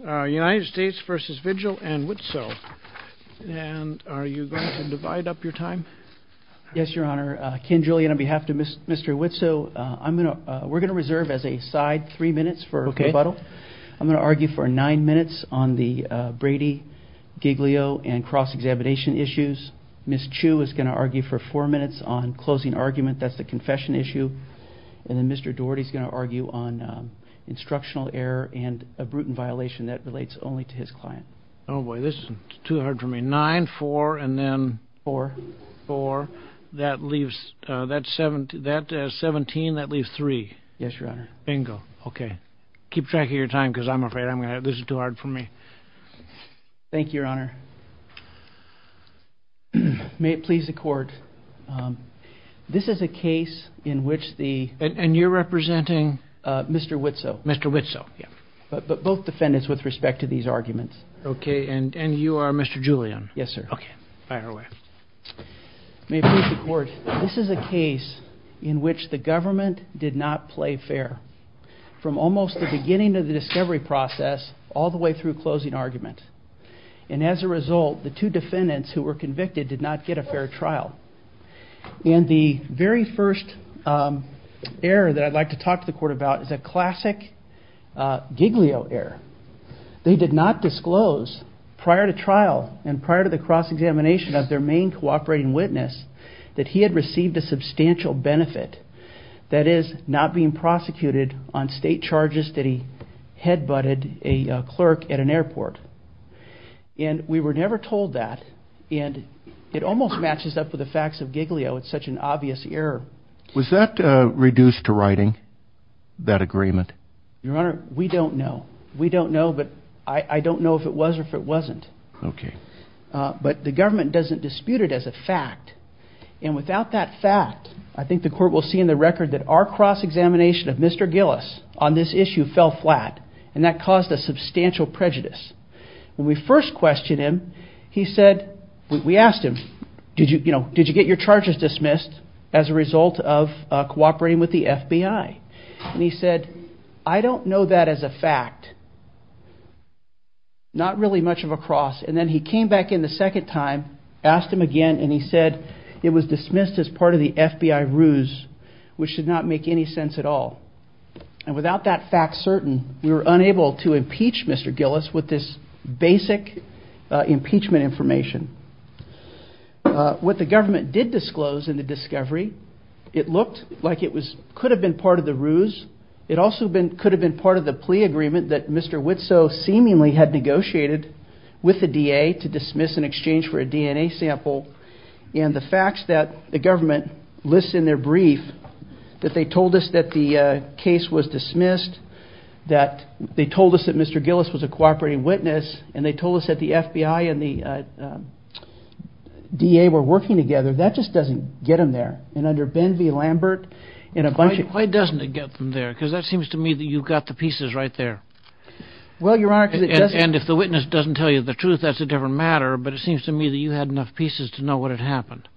United States v. Vigil and Witzow. Are you going to divide up your time? Yes, Your Honor. Ken Julian, on behalf of Mr. Witzow, we're going to reserve as a side three minutes for rebuttal. I'm going to argue for nine minutes on the Brady, Giglio, and cross-examination issues. Ms. Chu is going to argue for four minutes on closing argument, that's the confession issue. And then Mr. Daugherty is going to argue on instructional error and a brutal violation that relates only to his client. Oh, boy, this is too hard for me. Nine, four, and then... Four. Four. That leaves, that's 17, that leaves three. Yes, Your Honor. Bingo. Okay. Keep track of your time because I'm afraid this is too hard for me. Thank you, Your Honor. May it please the Court, this is a case in which the... And you're representing? Mr. Witzow. Mr. Witzow. But both defendants with respect to these arguments. Okay, and you are Mr. Julian. Yes, sir. Okay, fire away. May it please the Court, this is a case in which the government did not play fair. From almost the beginning of the discovery process all the way through closing argument. And as a result, the two defendants who were convicted did not get a fair trial. And the very first error that I'd like to talk to the Court about is a classic Giglio error. They did not disclose prior to trial and prior to the cross-examination of their main cooperating witness that he had received a substantial benefit. That is, not being prosecuted on state charges that he head-butted a clerk at an airport. And we were never told that. And it almost matches up with the facts of Giglio, it's such an obvious error. Was that reduced to writing, that agreement? Your Honor, we don't know. We don't know, but I don't know if it was or if it wasn't. Okay. But the government doesn't dispute it as a fact. And without that fact, I think the Court will see in the record that our cross-examination of Mr. Gillis on this issue fell flat. And that caused a substantial prejudice. When we first questioned him, we asked him, did you get your charges dismissed as a result of cooperating with the FBI? And he said, I don't know that as a fact. Not really much of a cross. And then he came back in the second time, asked him again, and he said it was dismissed as part of the FBI ruse, which did not make any sense at all. And without that fact certain, we were unable to impeach Mr. Gillis with this basic impeachment information. What the government did disclose in the discovery, it looked like it could have been part of the ruse. It also could have been part of the plea agreement that Mr. Witzow seemingly had negotiated with the DA to dismiss in exchange for a DNA sample. And the facts that the government lists in their brief, that they told us that the case was dismissed, that they told us that Mr. Gillis was a cooperating witness, and they told us that the FBI and the DA were working together, that just doesn't get them there. And under Ben v. Lambert, and a bunch of... Why doesn't it get them there? Because that seems to me that you've got the pieces right there. Well, Your Honor... And if the witness doesn't tell you the truth, that's a different matter, but it seems to me that you had enough pieces to know what had happened.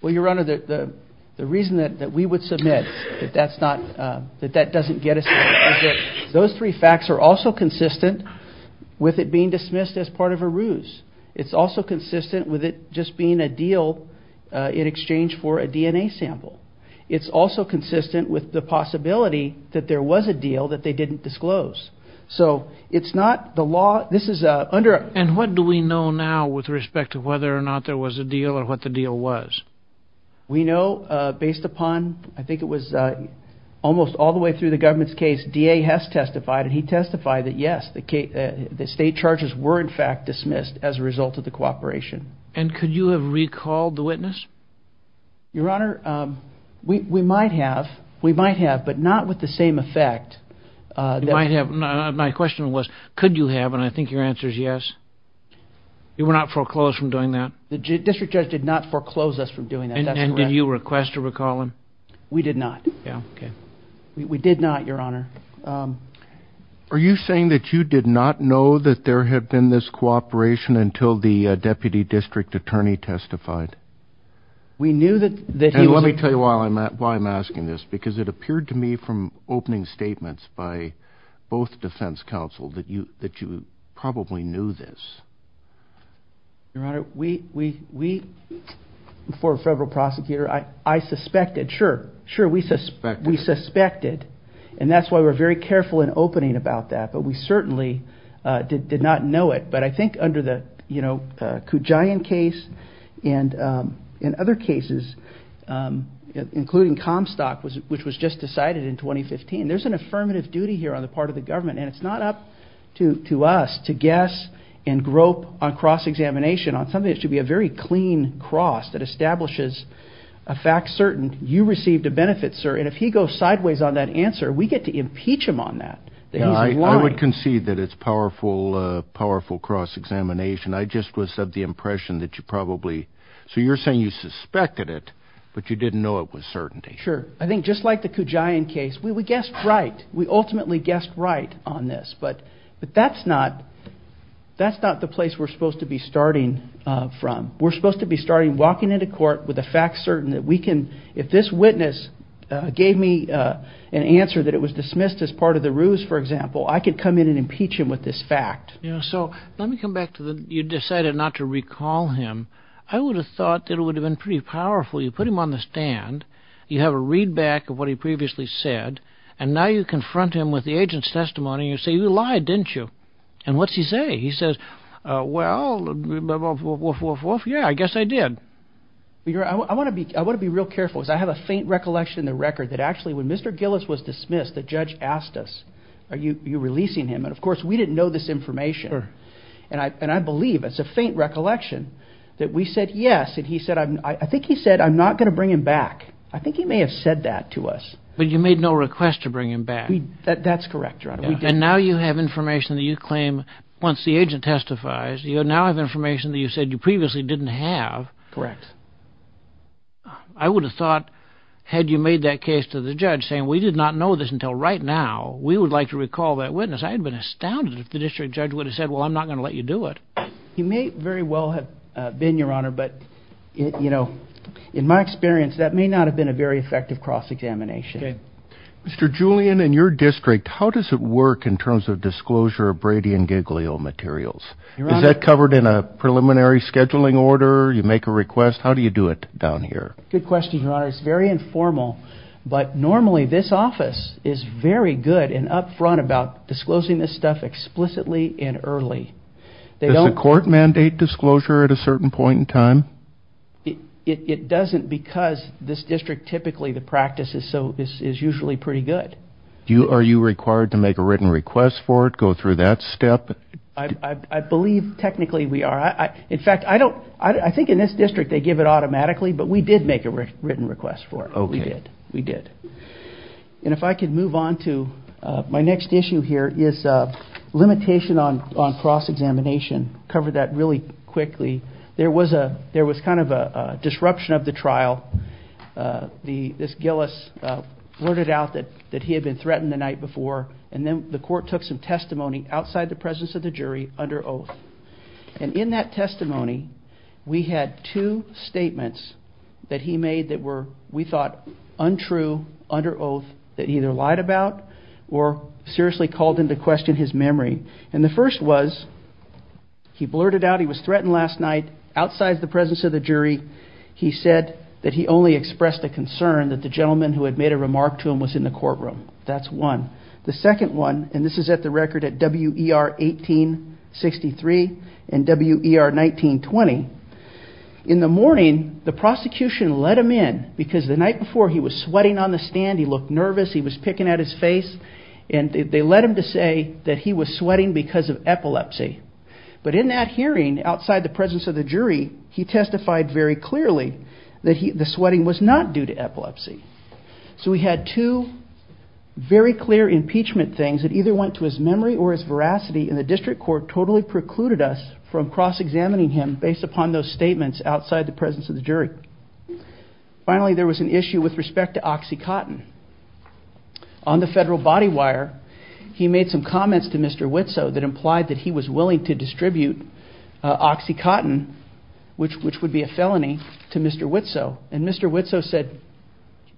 Well, Your Honor, the reason that we would submit that that doesn't get us there is that those three facts are also consistent with it being dismissed as part of a ruse. It's also consistent with it just being a deal in exchange for a DNA sample. It's also consistent with the possibility that there was a deal that they didn't disclose. So, it's not the law... And what do we know now with respect to whether or not there was a deal and what the deal was? We know, based upon... I think it was almost all the way through the government's case, DA Hess testified, and he testified that, yes, the state charges were in fact dismissed as a result of the cooperation. And could you have recalled the witness? Your Honor, we might have. We might have, but not with the same effect. You might have. My question was, could you have? And I think your answer is yes. You were not foreclosed from doing that? The district judge did not foreclose us from doing that. And did you request to recall him? We did not. Yeah, okay. We did not, Your Honor. Are you saying that you did not know that there had been this cooperation until the deputy district attorney testified? We knew that he was... And let me tell you why I'm asking this, because it appeared to me from opening statements by both defense counsel that you probably knew this. Your Honor, we, before a federal prosecutor, I suspected. Sure, sure, we suspected. And that's why we're very careful in opening about that. But we certainly did not know it. But I think under the Kujayan case and other cases, including Comstock, which was just decided in 2015, there's an affirmative duty here on the part of the government, and it's not up to us to guess and grope on cross-examination on something that should be a very clean cross that establishes a fact certain you received a benefit, sir. And if he goes sideways on that answer, we get to impeach him on that. I would concede that it's powerful cross-examination. I just was of the impression that you probably... So you're saying you suspected it, but you didn't know it was certainty. Sure. I think just like the Kujayan case, we guessed right. We ultimately guessed right on this. But that's not the place we're supposed to be starting from. We're supposed to be starting walking into court with a fact certain that we can... I could come in and impeach him with this fact. So let me come back to the you decided not to recall him. I would have thought that it would have been pretty powerful. You put him on the stand, you have a readback of what he previously said, and now you confront him with the agent's testimony and you say, you lied, didn't you? And what's he say? He says, well, yeah, I guess I did. I want to be real careful because I have a faint recollection in the record that actually when Mr. Gillis was dismissed, the judge asked us, are you releasing him? And of course, we didn't know this information. And I believe it's a faint recollection that we said yes. And he said, I think he said, I'm not going to bring him back. I think he may have said that to us. But you made no request to bring him back. That's correct. And now you have information that you claim once the agent testifies, you now have information that you said you previously didn't have. Correct. I would have thought, had you made that case to the judge saying, we did not know this until right now, we would like to recall that witness, I would have been astounded if the district judge would have said, well, I'm not going to let you do it. He may very well have been, Your Honor, but, you know, in my experience, that may not have been a very effective cross-examination. Mr. Julian, in your district, how does it work in terms of disclosure of Brady and Giglio materials? Is that covered in a preliminary scheduling order? You make a request. How do you do it down here? Good question, Your Honor. It's very informal. But normally this office is very good and up front about disclosing this stuff explicitly and early. Does the court mandate disclosure at a certain point in time? It doesn't because this district typically, the practice is usually pretty good. Are you required to make a written request for it, go through that step? I believe technically we are. In fact, I think in this district they give it automatically, but we did make a written request for it. We did. We did. And if I could move on to my next issue here is limitation on cross-examination. Cover that really quickly. There was kind of a disruption of the trial. This Gillis blurted out that he had been threatened the night before, and then the court took some testimony outside the presence of the jury under oath. And in that testimony we had two statements that he made that we thought untrue under oath that he either lied about or seriously called into question his memory. And the first was he blurted out he was threatened last night outside the presence of the jury. He said that he only expressed a concern that the gentleman who had made a remark to him was in the courtroom. That's one. The second one, and this is at the record at WER 1863 and WER 1920, in the morning the prosecution let him in because the night before he was sweating on the stand, he looked nervous, he was picking at his face, and they let him to say that he was sweating because of epilepsy. But in that hearing outside the presence of the jury, he testified very clearly that the sweating was not due to epilepsy. So we had two very clear impeachment things that either went to his memory or his veracity, and the district court totally precluded us from cross-examining him based upon those statements outside the presence of the jury. Finally, there was an issue with respect to OxyContin. On the federal body wire, he made some comments to Mr. Witzow that implied that he was willing to distribute OxyContin, which would be a felony, to Mr. Witzow. And Mr. Witzow said,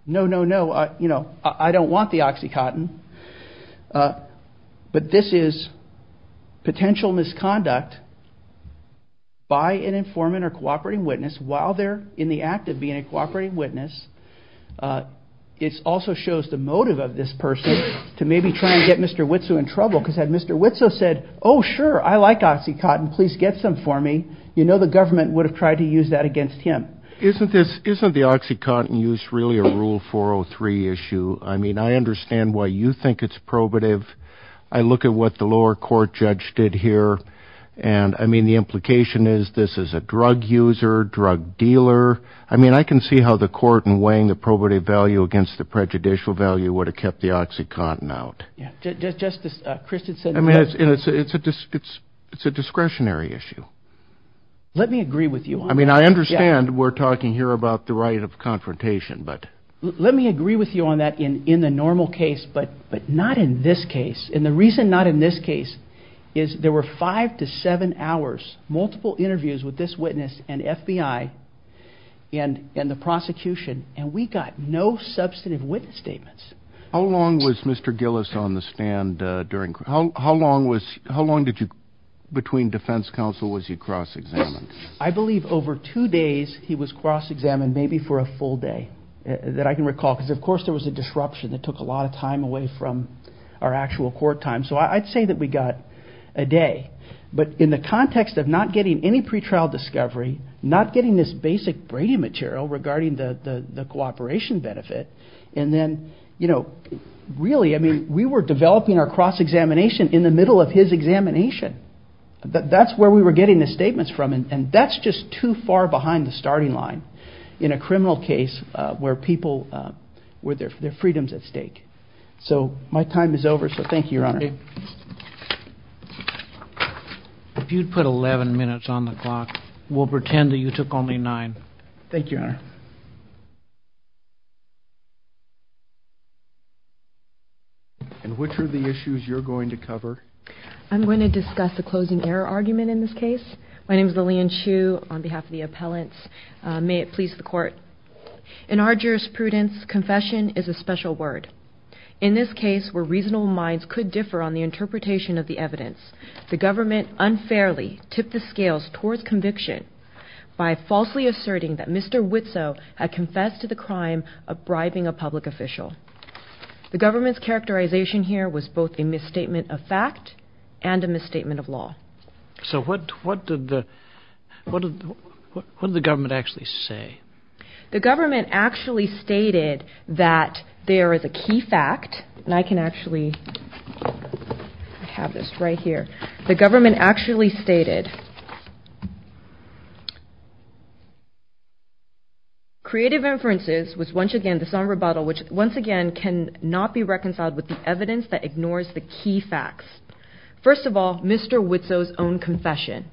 no, no, no, I don't want the OxyContin, but this is potential misconduct by an informant or cooperating witness while they're in the act of being a cooperating witness. It also shows the motive of this person to maybe try and get Mr. Witzow in trouble because had Mr. Witzow said, oh sure, I like OxyContin, please get some for me, you know the government would have tried to use that against him. Isn't this, isn't the OxyContin use really a Rule 403 issue? I mean, I understand why you think it's probative. I look at what the lower court judge did here, and I mean the implication is this is a drug user, drug dealer. I mean, I can see how the court in weighing the probative value against the prejudicial value would have kept the OxyContin out. Justice Christensen. I mean, it's a discretionary issue. Let me agree with you on that. I mean, I understand we're talking here about the right of confrontation. Let me agree with you on that in the normal case, but not in this case. And the reason not in this case is there were five to seven hours, multiple interviews with this witness and FBI and the prosecution, and we got no substantive witness statements. How long was Mr. Gillis on the stand during, how long did you, between defense counsel was he cross-examined? I believe over two days he was cross-examined, maybe for a full day, that I can recall because, of course, there was a disruption that took a lot of time away from our actual court time. So I'd say that we got a day. But in the context of not getting any pretrial discovery, not getting this basic Brady material regarding the cooperation benefit, and then, you know, really, I mean, we were developing our cross-examination in the middle of his examination. That's where we were getting the statements from, and that's just too far behind the starting line in a criminal case where people, where their freedom's at stake. So my time is over, so thank you, Your Honor. If you'd put 11 minutes on the clock, we'll pretend that you took only nine. Thank you, Your Honor. And which are the issues you're going to cover? I'm going to discuss the closing error argument in this case. My name is Lillian Chu on behalf of the appellants. May it please the Court. In our jurisprudence, confession is a special word. In this case, where reasonable minds could differ on the interpretation of the evidence, the government unfairly tipped the scales towards conviction by falsely asserting that Mr. Witzow had confessed to the crime of bribing a public official. The government's characterization here was both a misstatement of fact and a misstatement of law. So what did the government actually say? The government actually stated that there is a key fact, and I can actually have this right here. The government actually stated, Creative inferences was once again the somber bottle, which once again cannot be reconciled with the evidence that ignores the key facts. First of all, Mr. Witzow's own confession.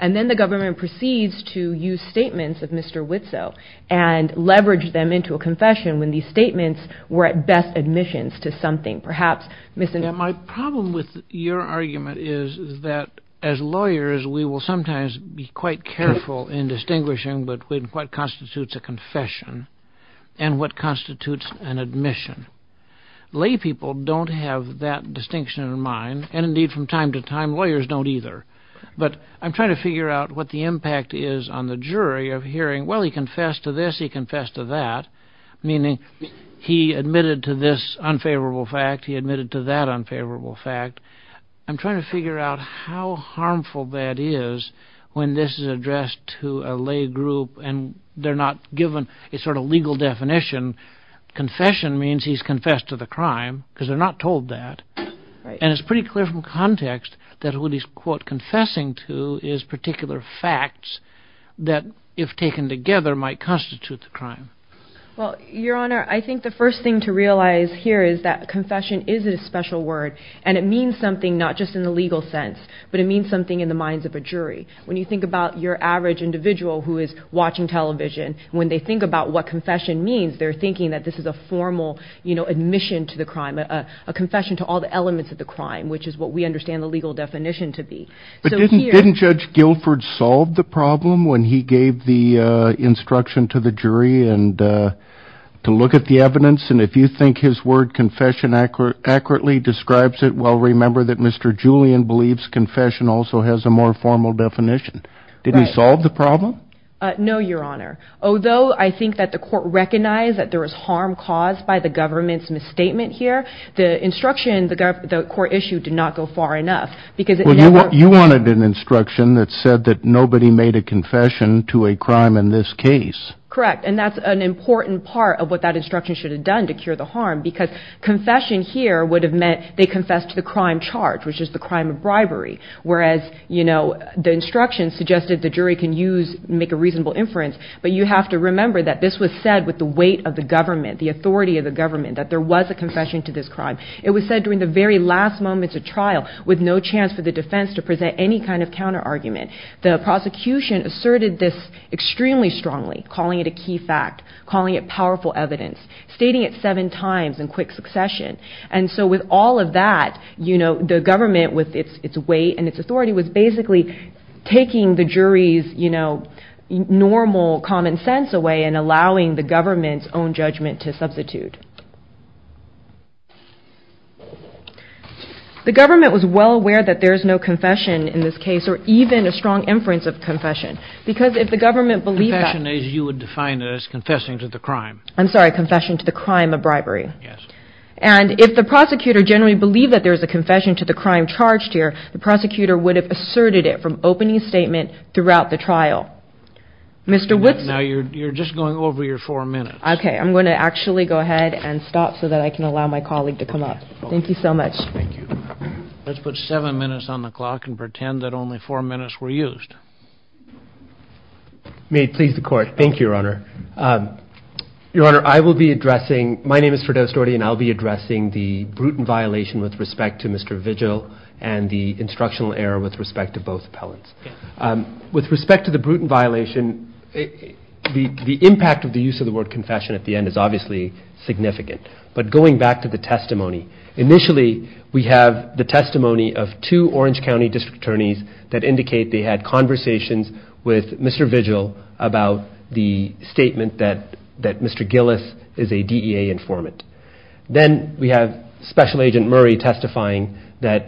And then the government proceeds to use statements of Mr. Witzow and leverage them into a confession when these statements were at best admissions to something. My problem with your argument is that as lawyers, we will sometimes be quite careful in distinguishing between what constitutes a confession and what constitutes an admission. Lay people don't have that distinction in mind, and indeed from time to time lawyers don't either. But I'm trying to figure out what the impact is on the jury of hearing, well, he confessed to this, he confessed to that, meaning he admitted to this unfavorable fact, he admitted to that unfavorable fact. I'm trying to figure out how harmful that is when this is addressed to a lay group and they're not given a sort of legal definition. Confession means he's confessed to the crime because they're not told that. And it's pretty clear from context that what he's, quote, Your Honor, I think the first thing to realize here is that confession is a special word and it means something not just in the legal sense, but it means something in the minds of a jury. When you think about your average individual who is watching television, when they think about what confession means, they're thinking that this is a formal admission to the crime, a confession to all the elements of the crime, which is what we understand the legal definition to be. But didn't Judge Guilford solve the problem when he gave the instruction to the jury to look at the evidence and if you think his word confession accurately describes it, well, remember that Mr. Julian believes confession also has a more formal definition. Did he solve the problem? No, Your Honor. Although I think that the court recognized that there was harm caused by the government's misstatement here, the instruction, the court issue did not go far enough. Well, you wanted an instruction that said that nobody made a confession to a crime in this case. Correct, and that's an important part of what that instruction should have done to cure the harm because confession here would have meant they confessed to the crime charge, which is the crime of bribery, whereas, you know, the instruction suggested the jury can use, make a reasonable inference, but you have to remember that this was said with the weight of the government, the authority of the government, that there was a confession to this crime. It was said during the very last moments of trial with no chance for the defense to present any kind of counterargument. The prosecution asserted this extremely strongly, calling it a key fact, calling it powerful evidence, stating it seven times in quick succession, and so with all of that, you know, the government with its weight and its authority was basically taking the jury's, you know, normal common sense away and allowing the government's own judgment to substitute. The government was well aware that there is no confession in this case or even a strong inference of confession because if the government believed that... Confession as you would define it as confessing to the crime. I'm sorry, confession to the crime of bribery. Yes. And if the prosecutor generally believed that there was a confession to the crime charged here, the prosecutor would have asserted it from opening statement throughout the trial. Mr. Woodson... Now you're just going over your four minutes. Okay, I'm going to actually go ahead and stop so that I can allow my colleague to come up. Thank you so much. Thank you. Let's put seven minutes on the clock and pretend that only four minutes were used. May it please the court. Thank you, Your Honor. Your Honor, I will be addressing... My name is Firdaus Doherty, and I'll be addressing the brutal violation with respect to Mr. Vigil and the instructional error with respect to both appellants. With respect to the brutal violation, the impact of the use of the word confession at the end is obviously significant. But going back to the testimony, initially we have the testimony of two Orange County district attorneys that indicate they had conversations with Mr. Vigil about the statement that Mr. Gillis is a DEA informant. Then we have Special Agent Murray testifying that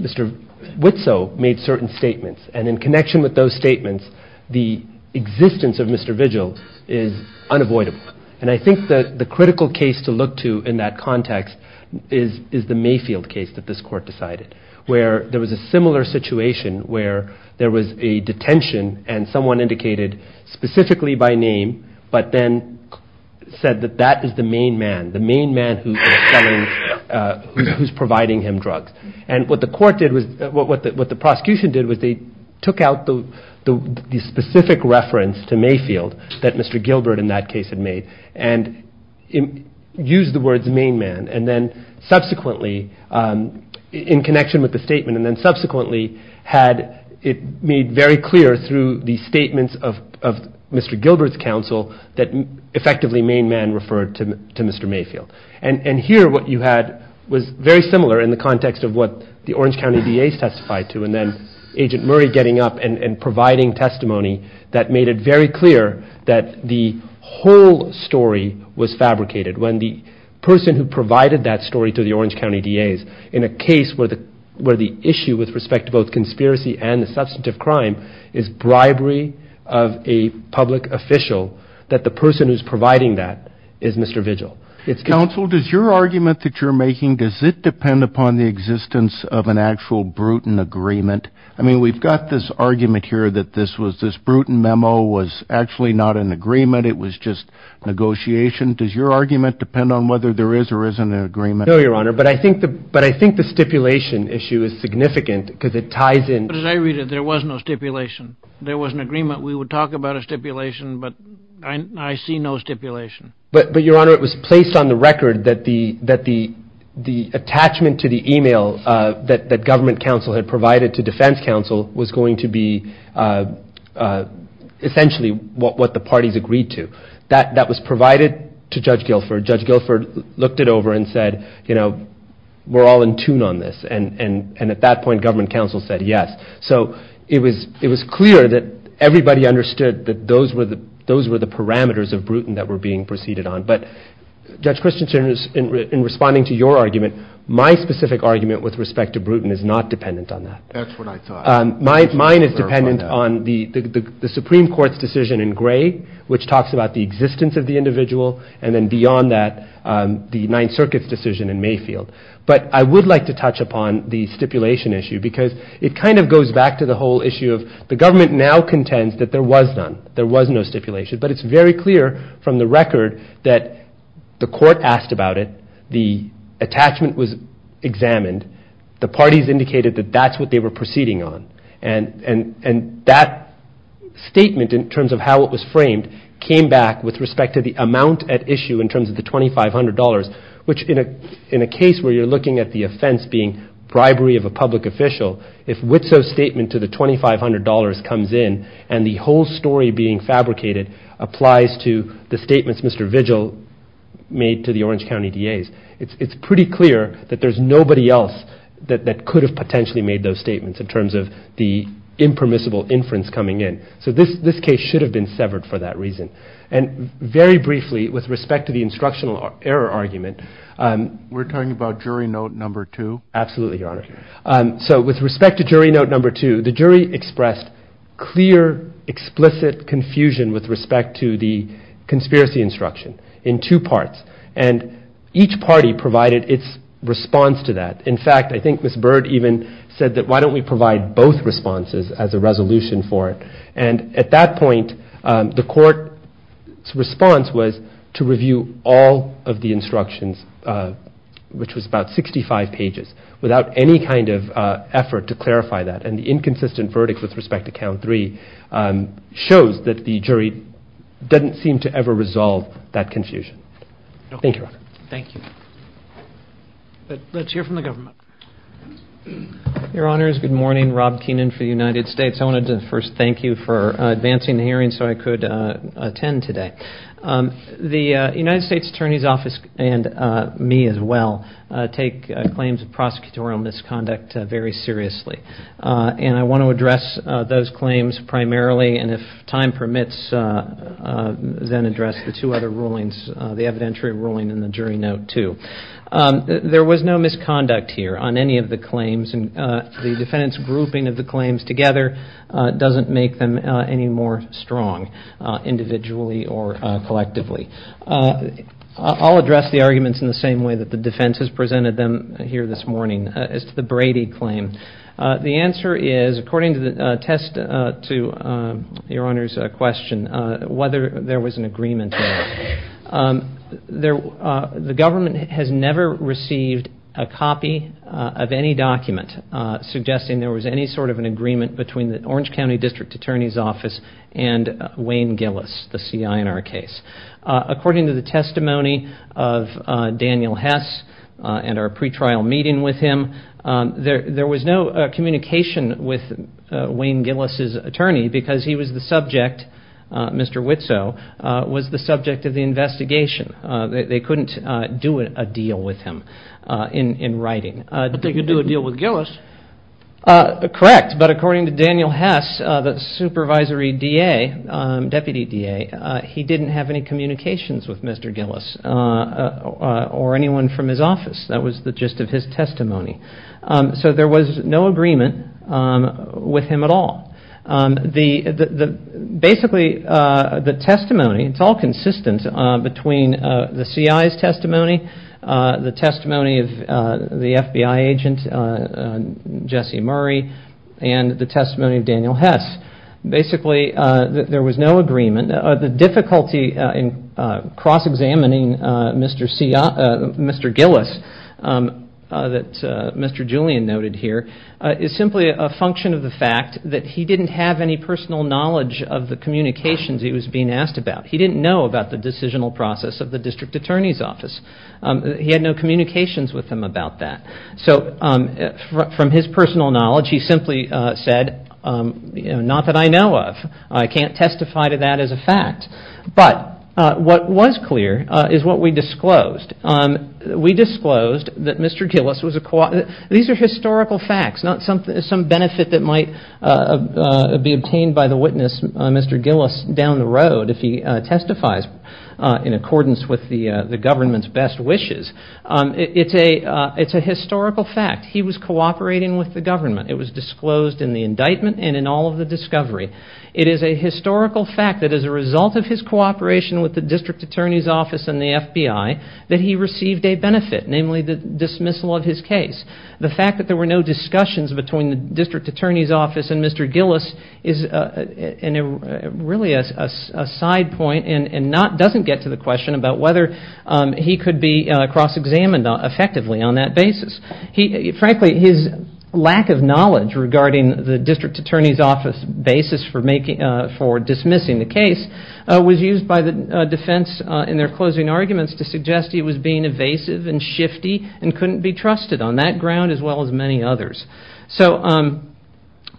Mr. Witso made certain statements, and in connection with those statements, the existence of Mr. Vigil is unavoidable. And I think that the critical case to look to in that context is the Mayfield case that this court decided, where there was a similar situation where there was a detention and someone indicated specifically by name but then said that that is the main man, the main man who is providing him drugs. And what the prosecution did was they took out the specific reference to Mayfield that Mr. Gilbert in that case had made and used the words main man, and then subsequently, in connection with the statement, it made very clear through the statements of Mr. Gilbert's counsel that effectively main man referred to Mr. Mayfield. And here what you had was very similar in the context of what the Orange County DAs testified to, and then Agent Murray getting up and providing testimony that made it very clear that the whole story was fabricated. When the person who provided that story to the Orange County DAs in a case where the issue with respect to both conspiracy and the substantive crime is bribery of a public official, that the person who's providing that is Mr. Vigil. Counsel, does your argument that you're making, does it depend upon the existence of an actual Bruton agreement? I mean, we've got this argument here that this Bruton memo was actually not an agreement, it was just negotiation. Does your argument depend on whether there is or isn't an agreement? No, Your Honor, but I think the stipulation issue is significant because it ties in. As I read it, there was no stipulation. There was an agreement we would talk about a stipulation, but I see no stipulation. But, Your Honor, it was placed on the record that the attachment to the email that government counsel had provided to defense counsel was going to be essentially what the parties agreed to. That was provided to Judge Guilford. Judge Guilford looked it over and said, you know, we're all in tune on this. And at that point, government counsel said yes. So it was clear that everybody understood that those were the parameters of Bruton that were being proceeded on. But, Judge Christensen, in responding to your argument, my specific argument with respect to Bruton is not dependent on that. That's what I thought. Mine is dependent on the Supreme Court's decision in Gray, which talks about the existence of the individual, and then beyond that, the Ninth Circuit's decision in Mayfield. But I would like to touch upon the stipulation issue because it kind of goes back to the whole issue of the government now contends that there was none. There was no stipulation. But it's very clear from the record that the court asked about it. The attachment was examined. The parties indicated that that's what they were proceeding on. And that statement in terms of how it was framed came back with respect to the amount at issue in terms of the $2,500, which in a case where you're looking at the offense being bribery of a public official, if Witsow's statement to the $2,500 comes in and the whole story being fabricated applies to the statements Mr. Vigil made to the Orange County DAs, it's pretty clear that there's nobody else that could have potentially made those statements in terms of the impermissible inference coming in. So this case should have been severed for that reason. And very briefly, with respect to the instructional error argument. We're talking about jury note number two? Absolutely, Your Honor. So with respect to jury note number two, the jury expressed clear, explicit confusion with respect to the conspiracy instruction in two parts. And each party provided its response to that. In fact, I think Ms. Bird even said that why don't we provide both responses as a resolution for it? And at that point, the court's response was to review all of the instructions, which was about 65 pages, without any kind of effort to clarify that. And the inconsistent verdict with respect to count three shows that the jury doesn't seem to ever resolve that confusion. Thank you, Your Honor. Thank you. Let's hear from the government. Your Honors, good morning. Rob Keenan for the United States. I wanted to first thank you for advancing the hearing so I could attend today. The United States Attorney's Office, and me as well, take claims of prosecutorial misconduct very seriously. And I want to address those claims primarily, and if time permits, then address the two other rulings, the evidentiary ruling and the jury note two. There was no misconduct here on any of the claims. The defendant's grouping of the claims together doesn't make them any more strong, individually or collectively. I'll address the arguments in the same way that the defense has presented them here this morning, as to the Brady claim. The answer is, according to the test to Your Honor's question, whether there was an agreement there. The government has never received a copy of any document suggesting there was any sort of an agreement between the Orange County District Attorney's Office and Wayne Gillis, the C.I. in our case. According to the testimony of Daniel Hess and our pretrial meeting with him, there was no communication with Wayne Gillis' attorney because he was the subject, Mr. Witzow, was the subject of the investigation. They couldn't do a deal with him in writing. But they could do a deal with Gillis. Correct. But according to Daniel Hess, the supervisory DA, deputy DA, he didn't have any communications with Mr. Gillis or anyone from his office. That was the gist of his testimony. So there was no agreement with him at all. Basically, the testimony, it's all consistent between the C.I.'s testimony, the testimony of the FBI agent, Jesse Murray, and the testimony of Daniel Hess. Basically, there was no agreement. The difficulty in cross-examining Mr. Gillis that Mr. Julian noted here is simply a function of the fact that he didn't have any personal knowledge of the communications he was being asked about. He didn't know about the decisional process of the District Attorney's Office. He had no communications with him about that. So from his personal knowledge, he simply said, not that I know of. I can't testify to that as a fact. But what was clear is what we disclosed. We disclosed that Mr. Gillis was a co- These are historical facts, not some benefit that might be obtained by the witness, Mr. Gillis, down the road if he testifies in accordance with the government's best wishes. It's a historical fact. He was cooperating with the government. It was disclosed in the indictment and in all of the discovery. It is a historical fact that as a result of his cooperation with the District Attorney's Office and the FBI that he received a benefit, namely the dismissal of his case. The fact that there were no discussions between the District Attorney's Office and Mr. Gillis is really a side point and doesn't get to the question about whether he could be cross-examined effectively on that basis. Frankly, his lack of knowledge regarding the District Attorney's Office basis for dismissing the case was used by the defense in their closing arguments to suggest he was being evasive and shifty and couldn't be trusted on that ground as well as many others.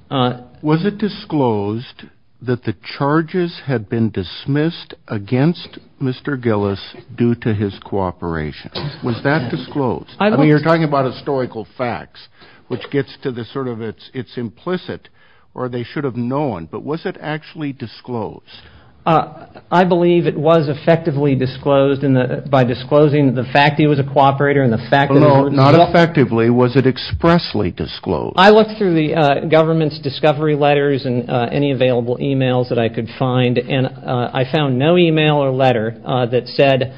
Was it disclosed that the charges had been dismissed against Mr. Gillis due to his cooperation? Was that disclosed? I mean, you're talking about historical facts, which gets to the sort of it's implicit or they should have known. But was it actually disclosed? I believe it was effectively disclosed by disclosing the fact he was a cooperator and the fact that... No, not effectively. Was it expressly disclosed? I looked through the government's discovery letters and any available e-mails that I could find, and I found no e-mail or letter that said,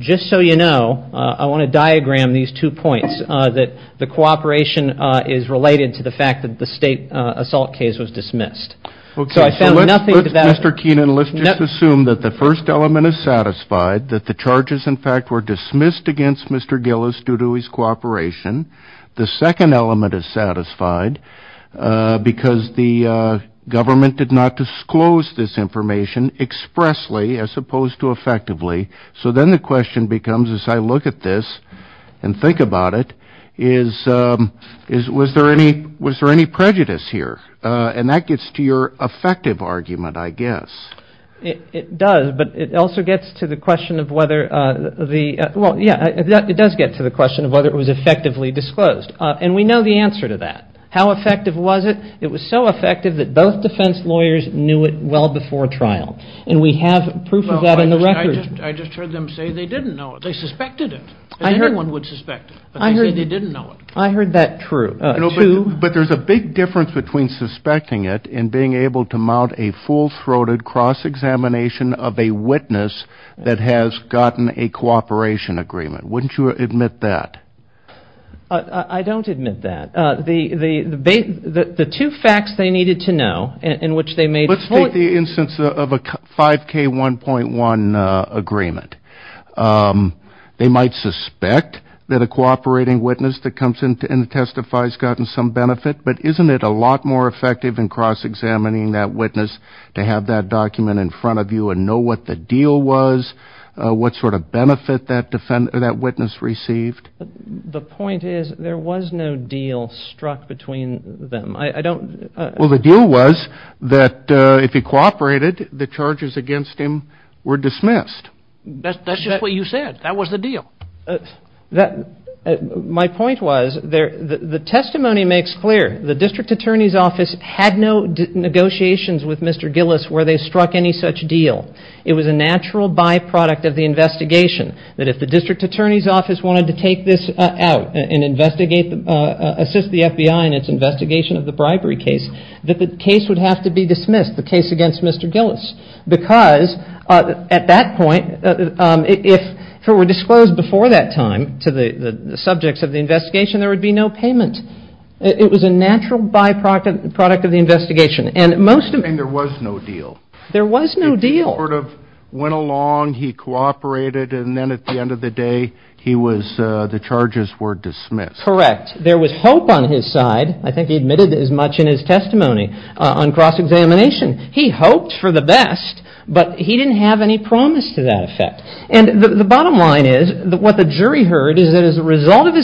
just so you know, I want to diagram these two points, that the cooperation is related to the fact that the state assault case was dismissed. Okay, so let's, Mr. Keenan, let's just assume that the first element is satisfied, that the charges, in fact, were dismissed against Mr. Gillis due to his cooperation. The second element is satisfied because the government did not disclose this information expressly as opposed to effectively. So then the question becomes, as I look at this and think about it, is was there any prejudice here? And that gets to your effective argument, I guess. It does, but it also gets to the question of whether the... Well, I just heard them say they didn't know it. They suspected it, and anyone would suspect it. But they say they didn't know it. I heard that true, too. But there's a big difference between suspecting it and being able to mount a full-throated cross-examination of a witness that has gotten a cooperation agreement. I would. I would. I don't admit that. The two facts they needed to know in which they made... Let's take the instance of a 5K1.1 agreement. They might suspect that a cooperating witness that comes in to testify has gotten some benefit, but isn't it a lot more effective in cross-examining that witness to have that document in front of you and know what the deal was, what sort of benefit that witness received? The point is, there was no deal struck between them. I don't... Well, the deal was that if he cooperated, the charges against him were dismissed. That's just what you said. That was the deal. My point was, the testimony makes clear the district attorney's office had no negotiations with Mr. Gillis where they struck any such deal. It was a natural byproduct of the investigation that if the district attorney's office wanted to take the case, take this out and assist the FBI in its investigation of the bribery case, that the case would have to be dismissed, the case against Mr. Gillis. Because at that point, if it were disclosed before that time to the subjects of the investigation, there would be no payment. It was a natural byproduct of the investigation. And there was no deal. There was no deal. He sort of went along, he cooperated, and then at the end of the day, the charges were dismissed. Correct. There was hope on his side. I think he admitted as much in his testimony on cross-examination. He hoped for the best, but he didn't have any promise to that effect. And the bottom line is, what the jury heard is that as a result of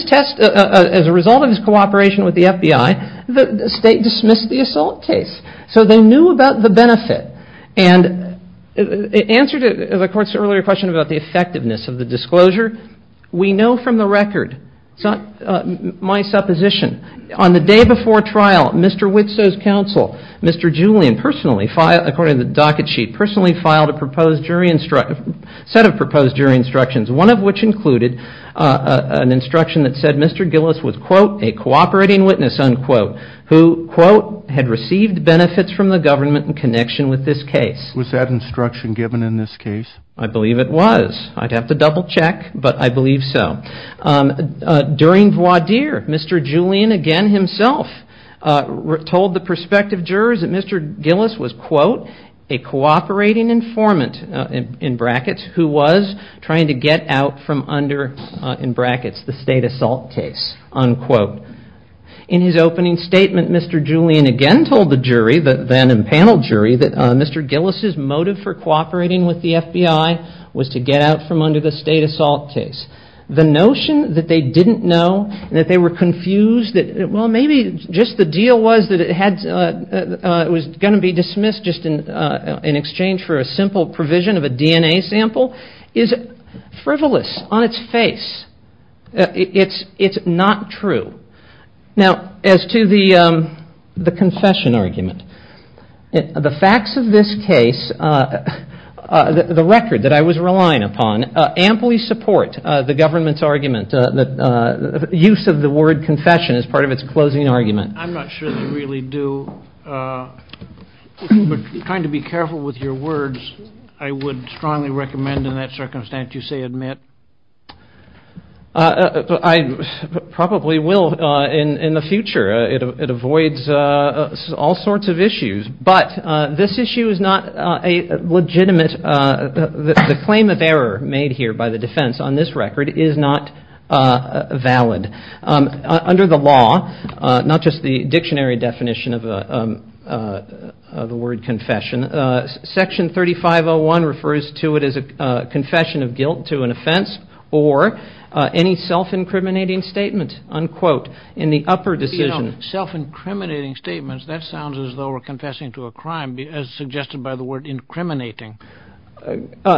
his cooperation with the FBI, the state dismissed the assault case. So they knew about the benefit. And in answer to the court's earlier question about the effectiveness of the disclosure, we know from the record, it's not my supposition, on the day before trial, Mr. Witso's counsel, Mr. Julian, according to the docket sheet, personally filed a set of proposed jury instructions, one of which included an instruction that said Mr. Gillis was, quote, a cooperating witness, unquote, who, quote, had received benefits from the government in connection with this case. Was that instruction given in this case? I believe it was. I'd have to double-check, but I believe so. During voir dire, Mr. Julian again himself told the prospective jurors that Mr. Gillis was, quote, a cooperating informant, in brackets, who was trying to get out from under, in brackets, the state assault case, unquote. In his opening statement, Mr. Julian again told the jury, the panel jury, that Mr. Gillis' motive for cooperating with the FBI was to get out from under the state assault case. The notion that they didn't know, that they were confused, well, maybe just the deal was that it was going to be dismissed just in exchange for a simple provision of a DNA sample, is frivolous on its face. It's not true. Now, as to the confession argument, the facts of this case, the record that I was relying upon, amply support the government's argument that the use of the word confession is part of its closing argument. I'm not sure they really do, but trying to be careful with your words, I would strongly recommend in that circumstance you say admit. I probably will in the future. It avoids all sorts of issues, but this issue is not a legitimate, the claim of error made here by the defense on this record is not valid. Under the law, not just the dictionary definition of the word confession, section 3501 refers to it as a confession of guilt to an offense, or any self-incriminating statement, unquote, in the upper decision. Self-incriminating statements, that sounds as though we're confessing to a crime, as suggested by the word incriminating. Well,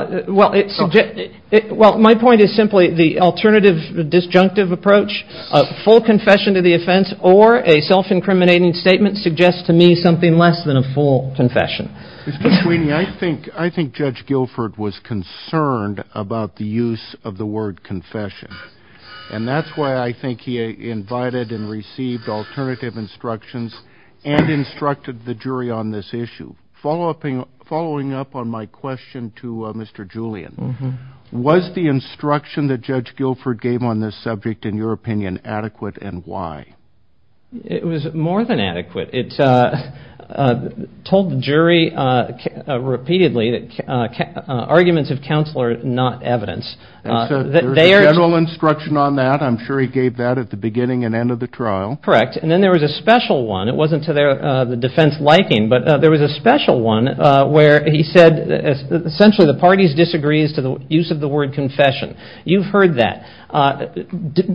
my point is simply, the alternative disjunctive approach, a full confession to the offense, or a self-incriminating statement, suggests to me something less than a full confession. Mr. Sweeney, I think Judge Guilford was concerned about the use of the word confession, and that's why I think he invited and received alternative instructions, and instructed the jury on this issue. Following up on my question to Mr. Julian, was the instruction that Judge Guilford gave on this subject, in your opinion, adequate, and why? It was more than adequate. It told the jury repeatedly that arguments of counsel are not evidence. There's a general instruction on that, I'm sure he gave that at the beginning and end of the trial. Correct, and then there was a special one, it wasn't to the defense liking, but there was a special one where he said, essentially the parties disagree as to the use of the word confession. You've heard that.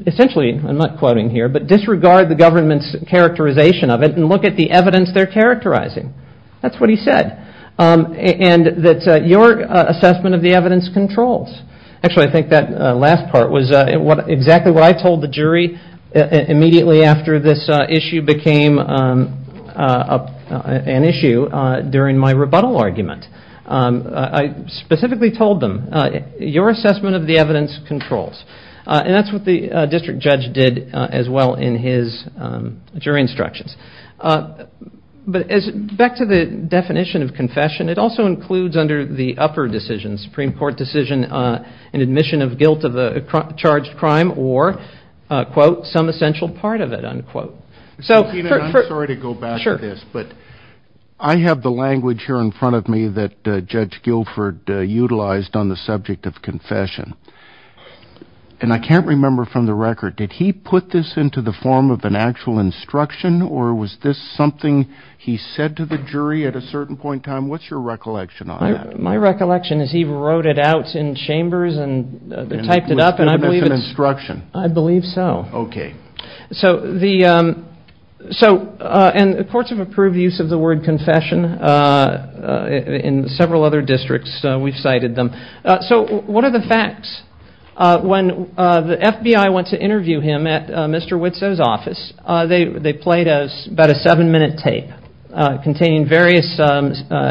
Essentially, I'm not quoting here, but disregard the government's characterization of it, and look at the evidence they're characterizing. That's what he said. And that your assessment of the evidence controls. Actually, I think that last part was exactly what I told the jury immediately after this issue became an issue during my rebuttal argument. I specifically told them, your assessment of the evidence controls. And that's what the district judge did as well in his jury instructions. But back to the definition of confession, it also includes under the upper decision, the Supreme Court decision, an admission of guilt of the charged crime or, quote, some essential part of it, unquote. I'm sorry to go back to this, but I have the language here in front of me that Judge Guilford utilized on the subject of confession. And I can't remember from the record, did he put this into the form of an actual instruction or was this something he said to the jury at a certain point in time? What's your recollection on that? My recollection is he wrote it out in chambers and typed it up. And I believe it's an instruction. I believe so. Okay. And the courts have approved the use of the word confession in several other districts. We've cited them. So what are the facts? When the FBI went to interview him at Mr. Witzow's office, they played about a seven-minute tape containing various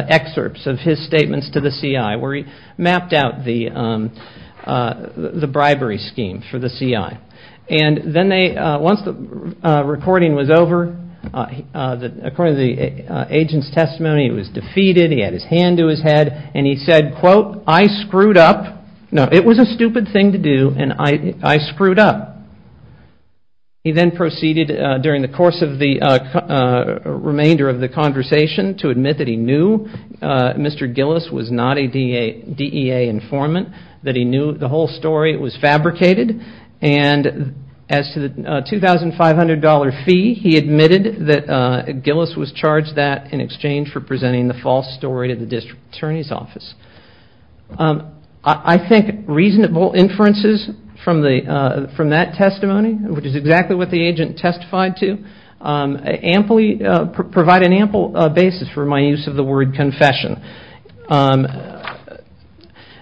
excerpts of his statements to the CI where he mapped out the bribery scheme for the CI. And then once the recording was over, according to the agent's testimony, he was defeated, he had his hand to his head, and he said, quote, I screwed up. No, it was a stupid thing to do, and I screwed up. He then proceeded during the course of the remainder of the conversation to admit that he knew Mr. Gillis was not a DEA informant, that he knew the whole story was fabricated, and as to the $2,500 fee, he admitted that Gillis was charged that in exchange for presenting the false story to the district attorney's office. I think reasonable inferences from that testimony, which is exactly what the agent testified to, provide an ample basis for my use of the word confession.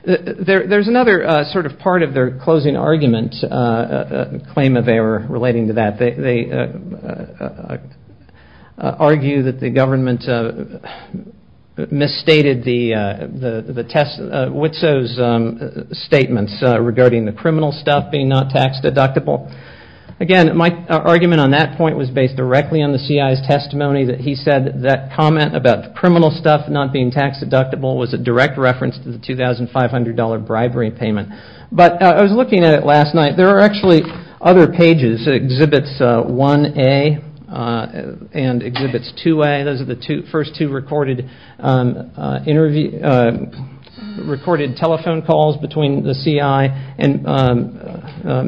There's another sort of part of their closing argument, claim of error relating to that, they argue that the government misstated the Witsow's statements regarding the criminal stuff being not tax deductible. Again, my argument on that point was based directly on the CI's testimony that he said that comment about criminal stuff not being tax deductible was a direct reference to the $2,500 bribery payment. I was looking at it last night, there are actually other pages that exhibits 1A and exhibits 2A, those are the first two recorded telephone calls between the CI and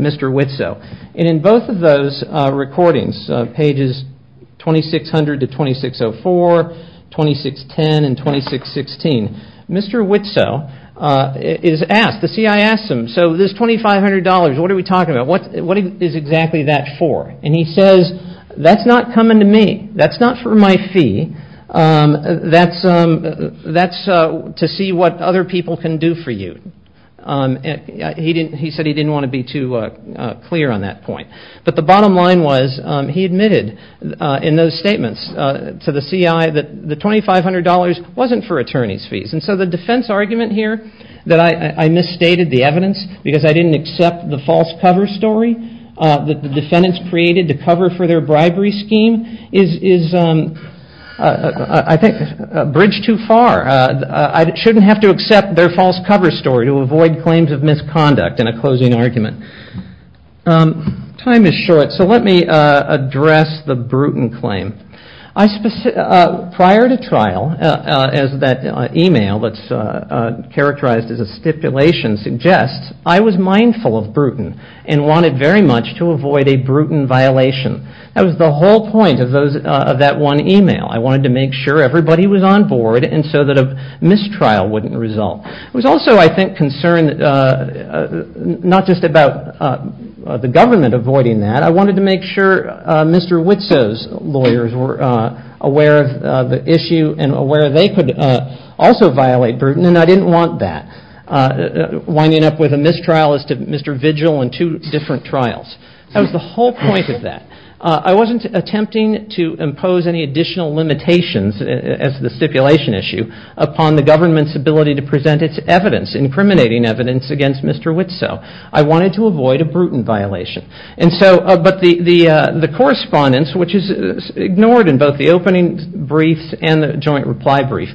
Mr. Witsow. In both of those recordings, pages 2600 to 2604, 2610 and 2616, Mr. Witsow is asked, the CI asks him, so this $2,500, what are we talking about, what is exactly that for? And he says, that's not coming to me, that's not for my fee, that's to see what other people can do for you. He said he didn't want to be too clear on that point. But the bottom line was he admitted in those statements to the CI that the $2,500 wasn't for attorney's fees. And so the defense argument here that I misstated the evidence because I didn't accept the false cover story that the defendants created to cover for their bribery scheme is I think a bridge too far. I shouldn't have to accept their false cover story to avoid claims of misconduct in a closing argument. Time is short, so let me address the Bruton claim. Prior to trial, as that email that's characterized as a stipulation suggests, I was mindful of Bruton and wanted very much to avoid a Bruton violation. That was the whole point of that one email. I wanted to make sure everybody was on board and so that a mistrial wouldn't result. It was also, I think, concerned not just about the government avoiding that. I wanted to make sure Mr. Witzow's lawyers were aware of the issue and aware they could also violate Bruton, and I didn't want that winding up with a mistrial as to Mr. Vigil in two different trials. That was the whole point of that. I wasn't attempting to impose any additional limitations, as the stipulation issue, upon the government's ability to present its evidence, incriminating evidence against Mr. Witzow. I wanted to avoid a Bruton violation. But the correspondence, which is ignored in both the opening brief and the joint reply brief,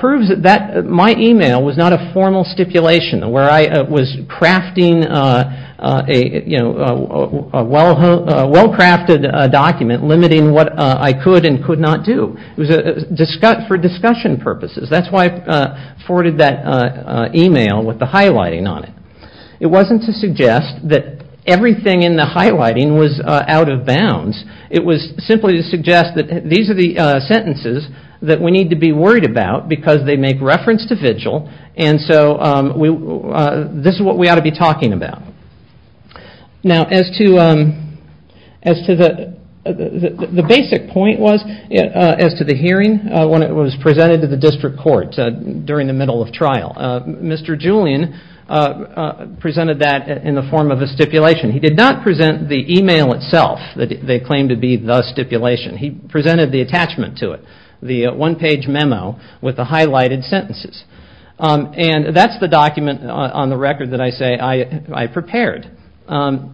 proves that my email was not a formal stipulation where I was crafting a well-crafted document limiting what I could and could not do. It was for discussion purposes. That's why I forwarded that email with the highlighting on it. It wasn't to suggest that everything in the highlighting was out of bounds. It was simply to suggest that these are the sentences that we need to be worried about because they make reference to Vigil, and so this is what we ought to be talking about. Now, as to the basic point was, as to the court, during the middle of trial, Mr. Julian presented that in the form of a stipulation. He did not present the email itself that they claimed to be the stipulation. He presented the attachment to it, the one-page memo with the highlighted sentences. And that's the document on the record that I say I prepared. And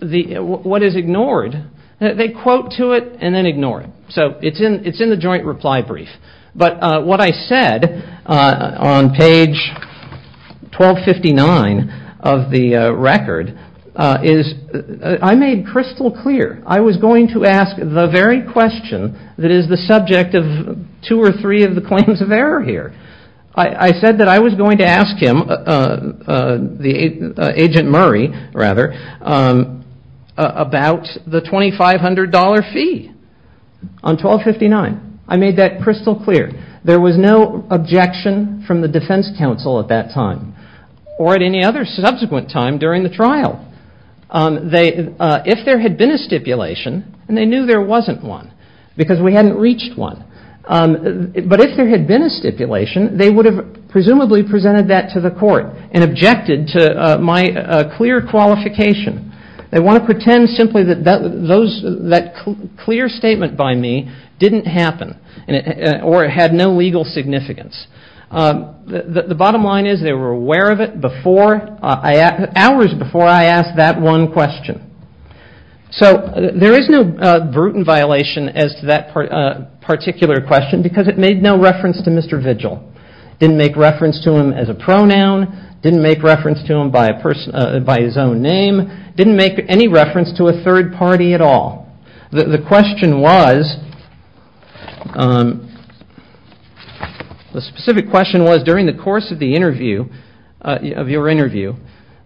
what is ignored, they quote to it and then ignore it. So it's in the joint reply brief. But what I said on page 1259 of the record is I made crystal clear I was going to ask the very question that is the subject of two or three of the claims of error here. I said that I was going to ask him, Agent Murray rather, about the $2,500 fee on 1259. I made that crystal clear. There was no objection from the defense counsel at that time or at any other subsequent time during the trial. If there had been a stipulation and they knew there wasn't one because we hadn't reached one. But if there had been a stipulation they would have presumably presented that to the court and objected to my clear qualification. They want to pretend simply that that clear statement by me didn't happen or had no legal significance. The bottom line is they were aware of it hours before I asked that one question. So there is no brutal violation as to that particular question because it made no reference to Mr. Vigil. Didn't make reference to him as a pronoun. Didn't make reference to him by his own name. Didn't make any reference to a third party at all. The specific question was during the course of your interview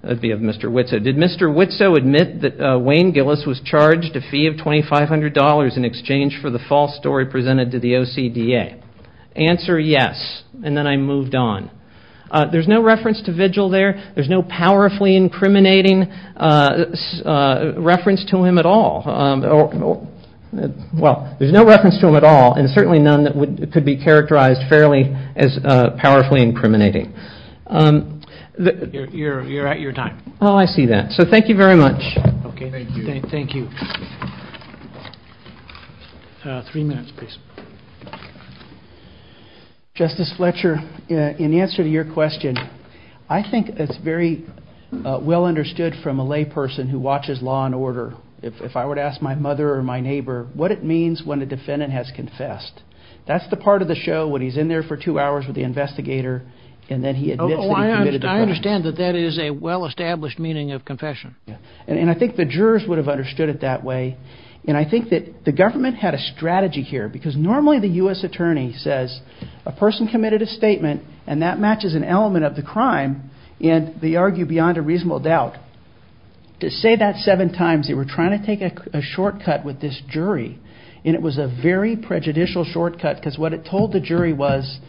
of Mr. Witso, did Mr. Witso admit that Wayne Gillis was charged a fee of $2,500 in exchange for the false story presented to the OCDA? Answer, yes. And then I moved on. There's no reference to Vigil there. There's no powerfully incriminating reference to him at all. Well, there's no reference to him at all and certainly none that could be characterized as powerfully incriminating. You're at your time. Oh, I see that. So thank you very much. Thank you. Three minutes, please. Justice Fletcher, in answer to your question, I think it's very well understood from a lay person who watches law and order. If I were to ask my mother or my neighbor what it means when a defendant has confessed, that's the part of the show when he's in there for two hours with the investigator and then he admits that he committed the crime. And I think the jurors would have understood it that way. And I think that the government had a strategy here because normally the U.S. attorney says a person committed a statement and that matches an element of the crime and they argue beyond a reasonable doubt. To say that seven times, they were trying to take a shortcut with this jury and it was a very prejudicial shortcut because what it told the jury was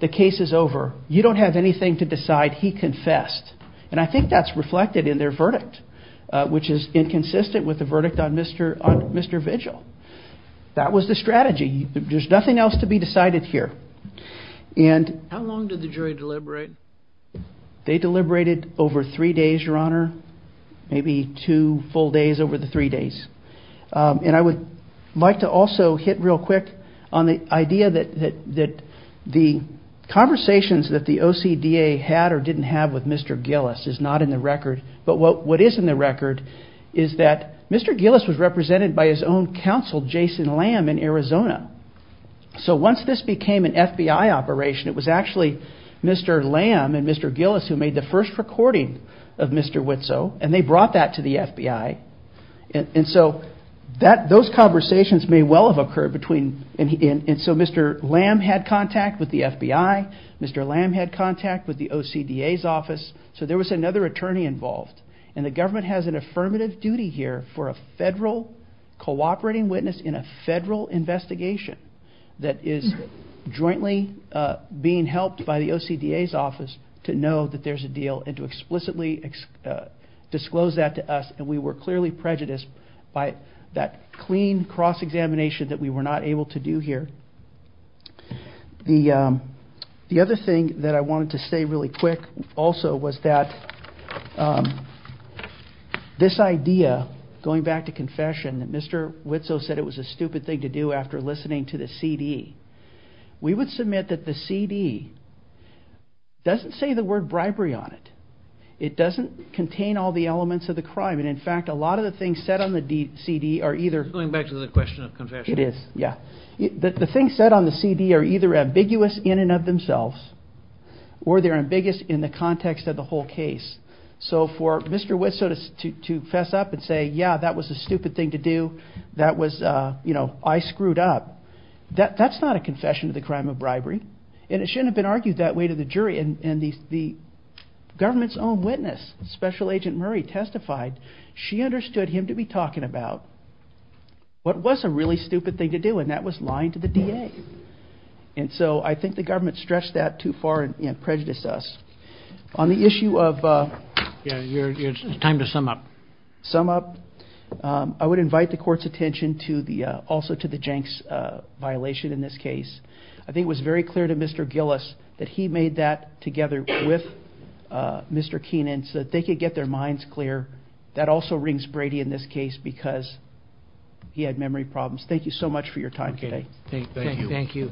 the case is over. You don't have anything to decide. He had a verdict, which is inconsistent with the verdict on Mr. Vigil. That was the strategy. There's nothing else to be decided here. How long did the jury deliberate? They deliberated over three days, Your Honor. Maybe two full days over the three days. And I would like to also hit real quick on the idea that the conversations that the OCDA had or didn't have with what is in the record is that Mr. Gillis was represented by his own counsel, Jason Lamb in Arizona. So once this became an FBI operation, it was actually Mr. Lamb and Mr. Gillis who made the first recording of Mr. Witzow and they brought that to the FBI. And so those conversations may well have occurred. And so Mr. Lamb had contact with the FBI. Mr. Lamb had contact with the OCDA's office. So there was another attorney involved. And the government has an affirmative duty here for a federal cooperating witness in a federal investigation that is jointly being helped by the OCDA's office to know that there's a deal and to explicitly disclose that to us. And we were clearly prejudiced by that clean cross-examination that we were not able to do here. The other thing that I wanted to say really quick also was that this idea, going back to confession, that Mr. Witzow said it was a stupid thing to do after listening to the CD. We would submit that the CD doesn't say the word bribery on it. It doesn't contain all the elements of the crime. And in fact, a lot of the things said on the CD are either... Going back to the question of confession. It is, yeah. The things said on the CD are either ambiguous in and of themselves or they're ambiguous in the context of the whole case. So for Mr. Witzow to fess up and say, yeah, that was a stupid thing to do. That was, you know, I screwed up. That's not a confession of the crime of bribery. And it shouldn't have been argued that way to the jury. And the government's own witness, Special Agent Murray, testified she understood him to be talking about what was a really stupid thing to do, and that was lying to the DA. And so I think the government stretched that too far and prejudiced us. On the issue of... It's time to sum up. Sum up. I would invite the court's attention also to the Jenks violation in this case. I think it was very clear to Mr. Gillis that he made that together with Mr. Keenan so that they could get their minds clear. That also rings Brady in this case because he had memory problems. Thank you so much for your time today. Thank you.